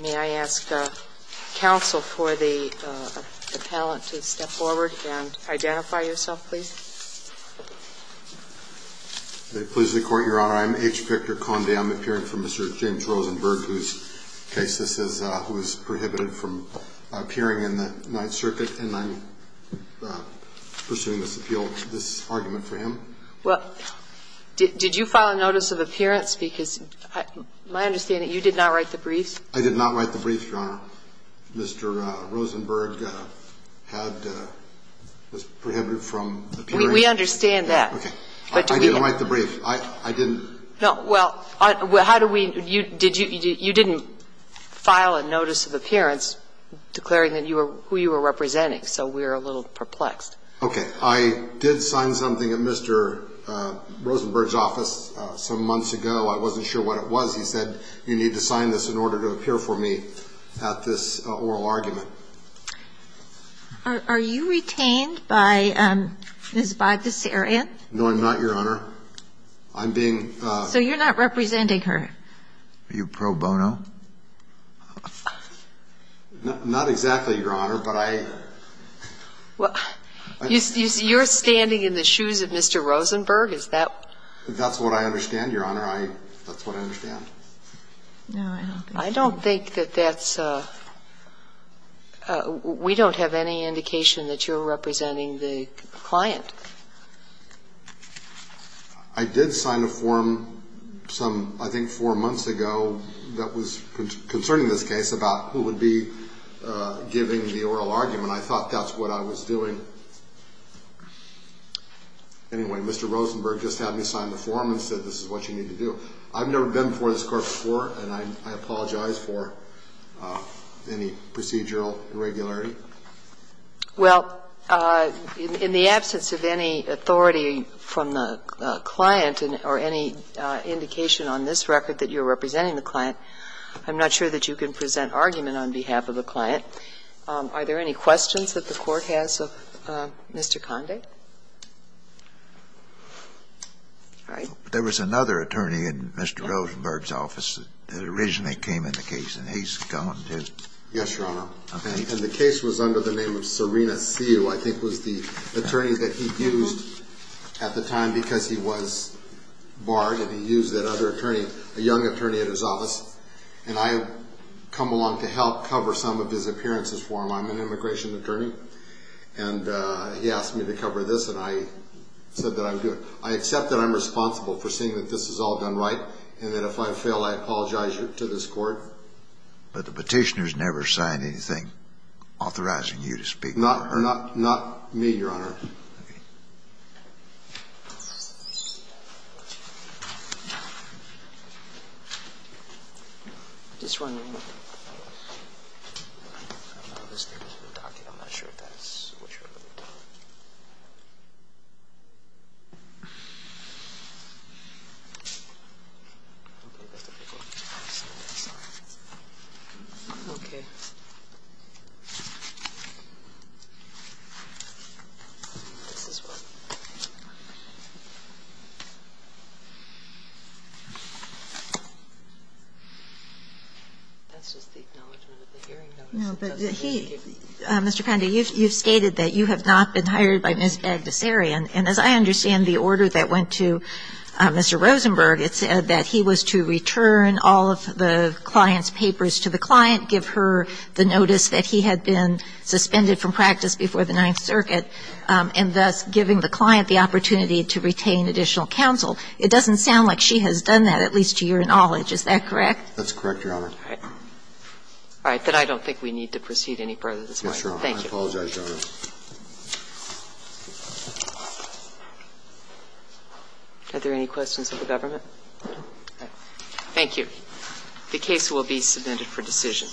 May I ask counsel for the appellant to step forward and identify yourself, please? If it pleases the Court, Your Honor, I'm H. Victor Conde. I'm appearing for Mr. James Rosenberg, whose case this is, who is prohibited from appearing in the Ninth Circuit. And I'm pursuing this appeal, this argument for him. Well, did you file a notice of appearance? Because my understanding is you did not write the briefs. I did not write the briefs, Your Honor. Mr. Rosenberg had been prohibited from appearing. We understand that. Okay. I didn't write the brief. I didn't. No. Well, how do we – you didn't file a notice of appearance declaring who you were representing, so we're a little perplexed. Okay. I did sign something at Mr. Rosenberg's office some months ago. I wasn't sure what it was. He said you need to sign this in order to appear for me at this oral argument. Are you retained by Ms. Bogdasarian? No, I'm not, Your Honor. I'm being – So you're not representing her? Are you pro bono? Not exactly, Your Honor, but I – You're standing in the shoes of Mr. Rosenberg? Is that – That's what I understand, Your Honor. That's what I understand. No, I don't think so. I don't think that that's – we don't have any indication that you're representing the client. I did sign a form some, I think, four months ago that was concerning this case about who would be giving the oral argument. I thought that's what I was doing. Anyway, Mr. Rosenberg just had me sign the form and said this is what you need to do. I've never been before this Court before, and I apologize for any procedural irregularity. Well, in the absence of any authority from the client or any indication on this record that you're representing the client, I'm not sure that you can present argument on behalf of the client. Are there any questions that the Court has of Mr. Conde? All right. There was another attorney in Mr. Rosenberg's office that originally came in the case, and he's gone, too. Yes, Your Honor. And the case was under the name of Serena Sue. I think it was the attorney that he used at the time because he was barred, and he used that other attorney, a young attorney at his office. And I have come along to help cover some of his appearances for him. I'm an immigration attorney, and he asked me to cover this, and I said that I would do it. I accept that I'm responsible for seeing that this is all done right, and that if I apologize to this Court. But the petitioner has never signed anything authorizing you to speak for her. Not me, Your Honor. Okay. Okay. Mr. Conde, you've stated that you have not been hired by Ms. Agdesari, and as I understand to Mr. Rosenberg, it said that he was to return all of the client's papers to the client, give her the notice that he had been suspended from practice before the Ninth Circuit, and thus giving the client the opportunity to retain additional counsel. It doesn't sound like she has done that, at least to your knowledge. Is that correct? That's correct, Your Honor. All right. All right. Then I don't think we need to proceed any further this morning. Yes, Your Honor. I apologize, Your Honor. Are there any questions of the government? No. Thank you. The case will be submitted for decision.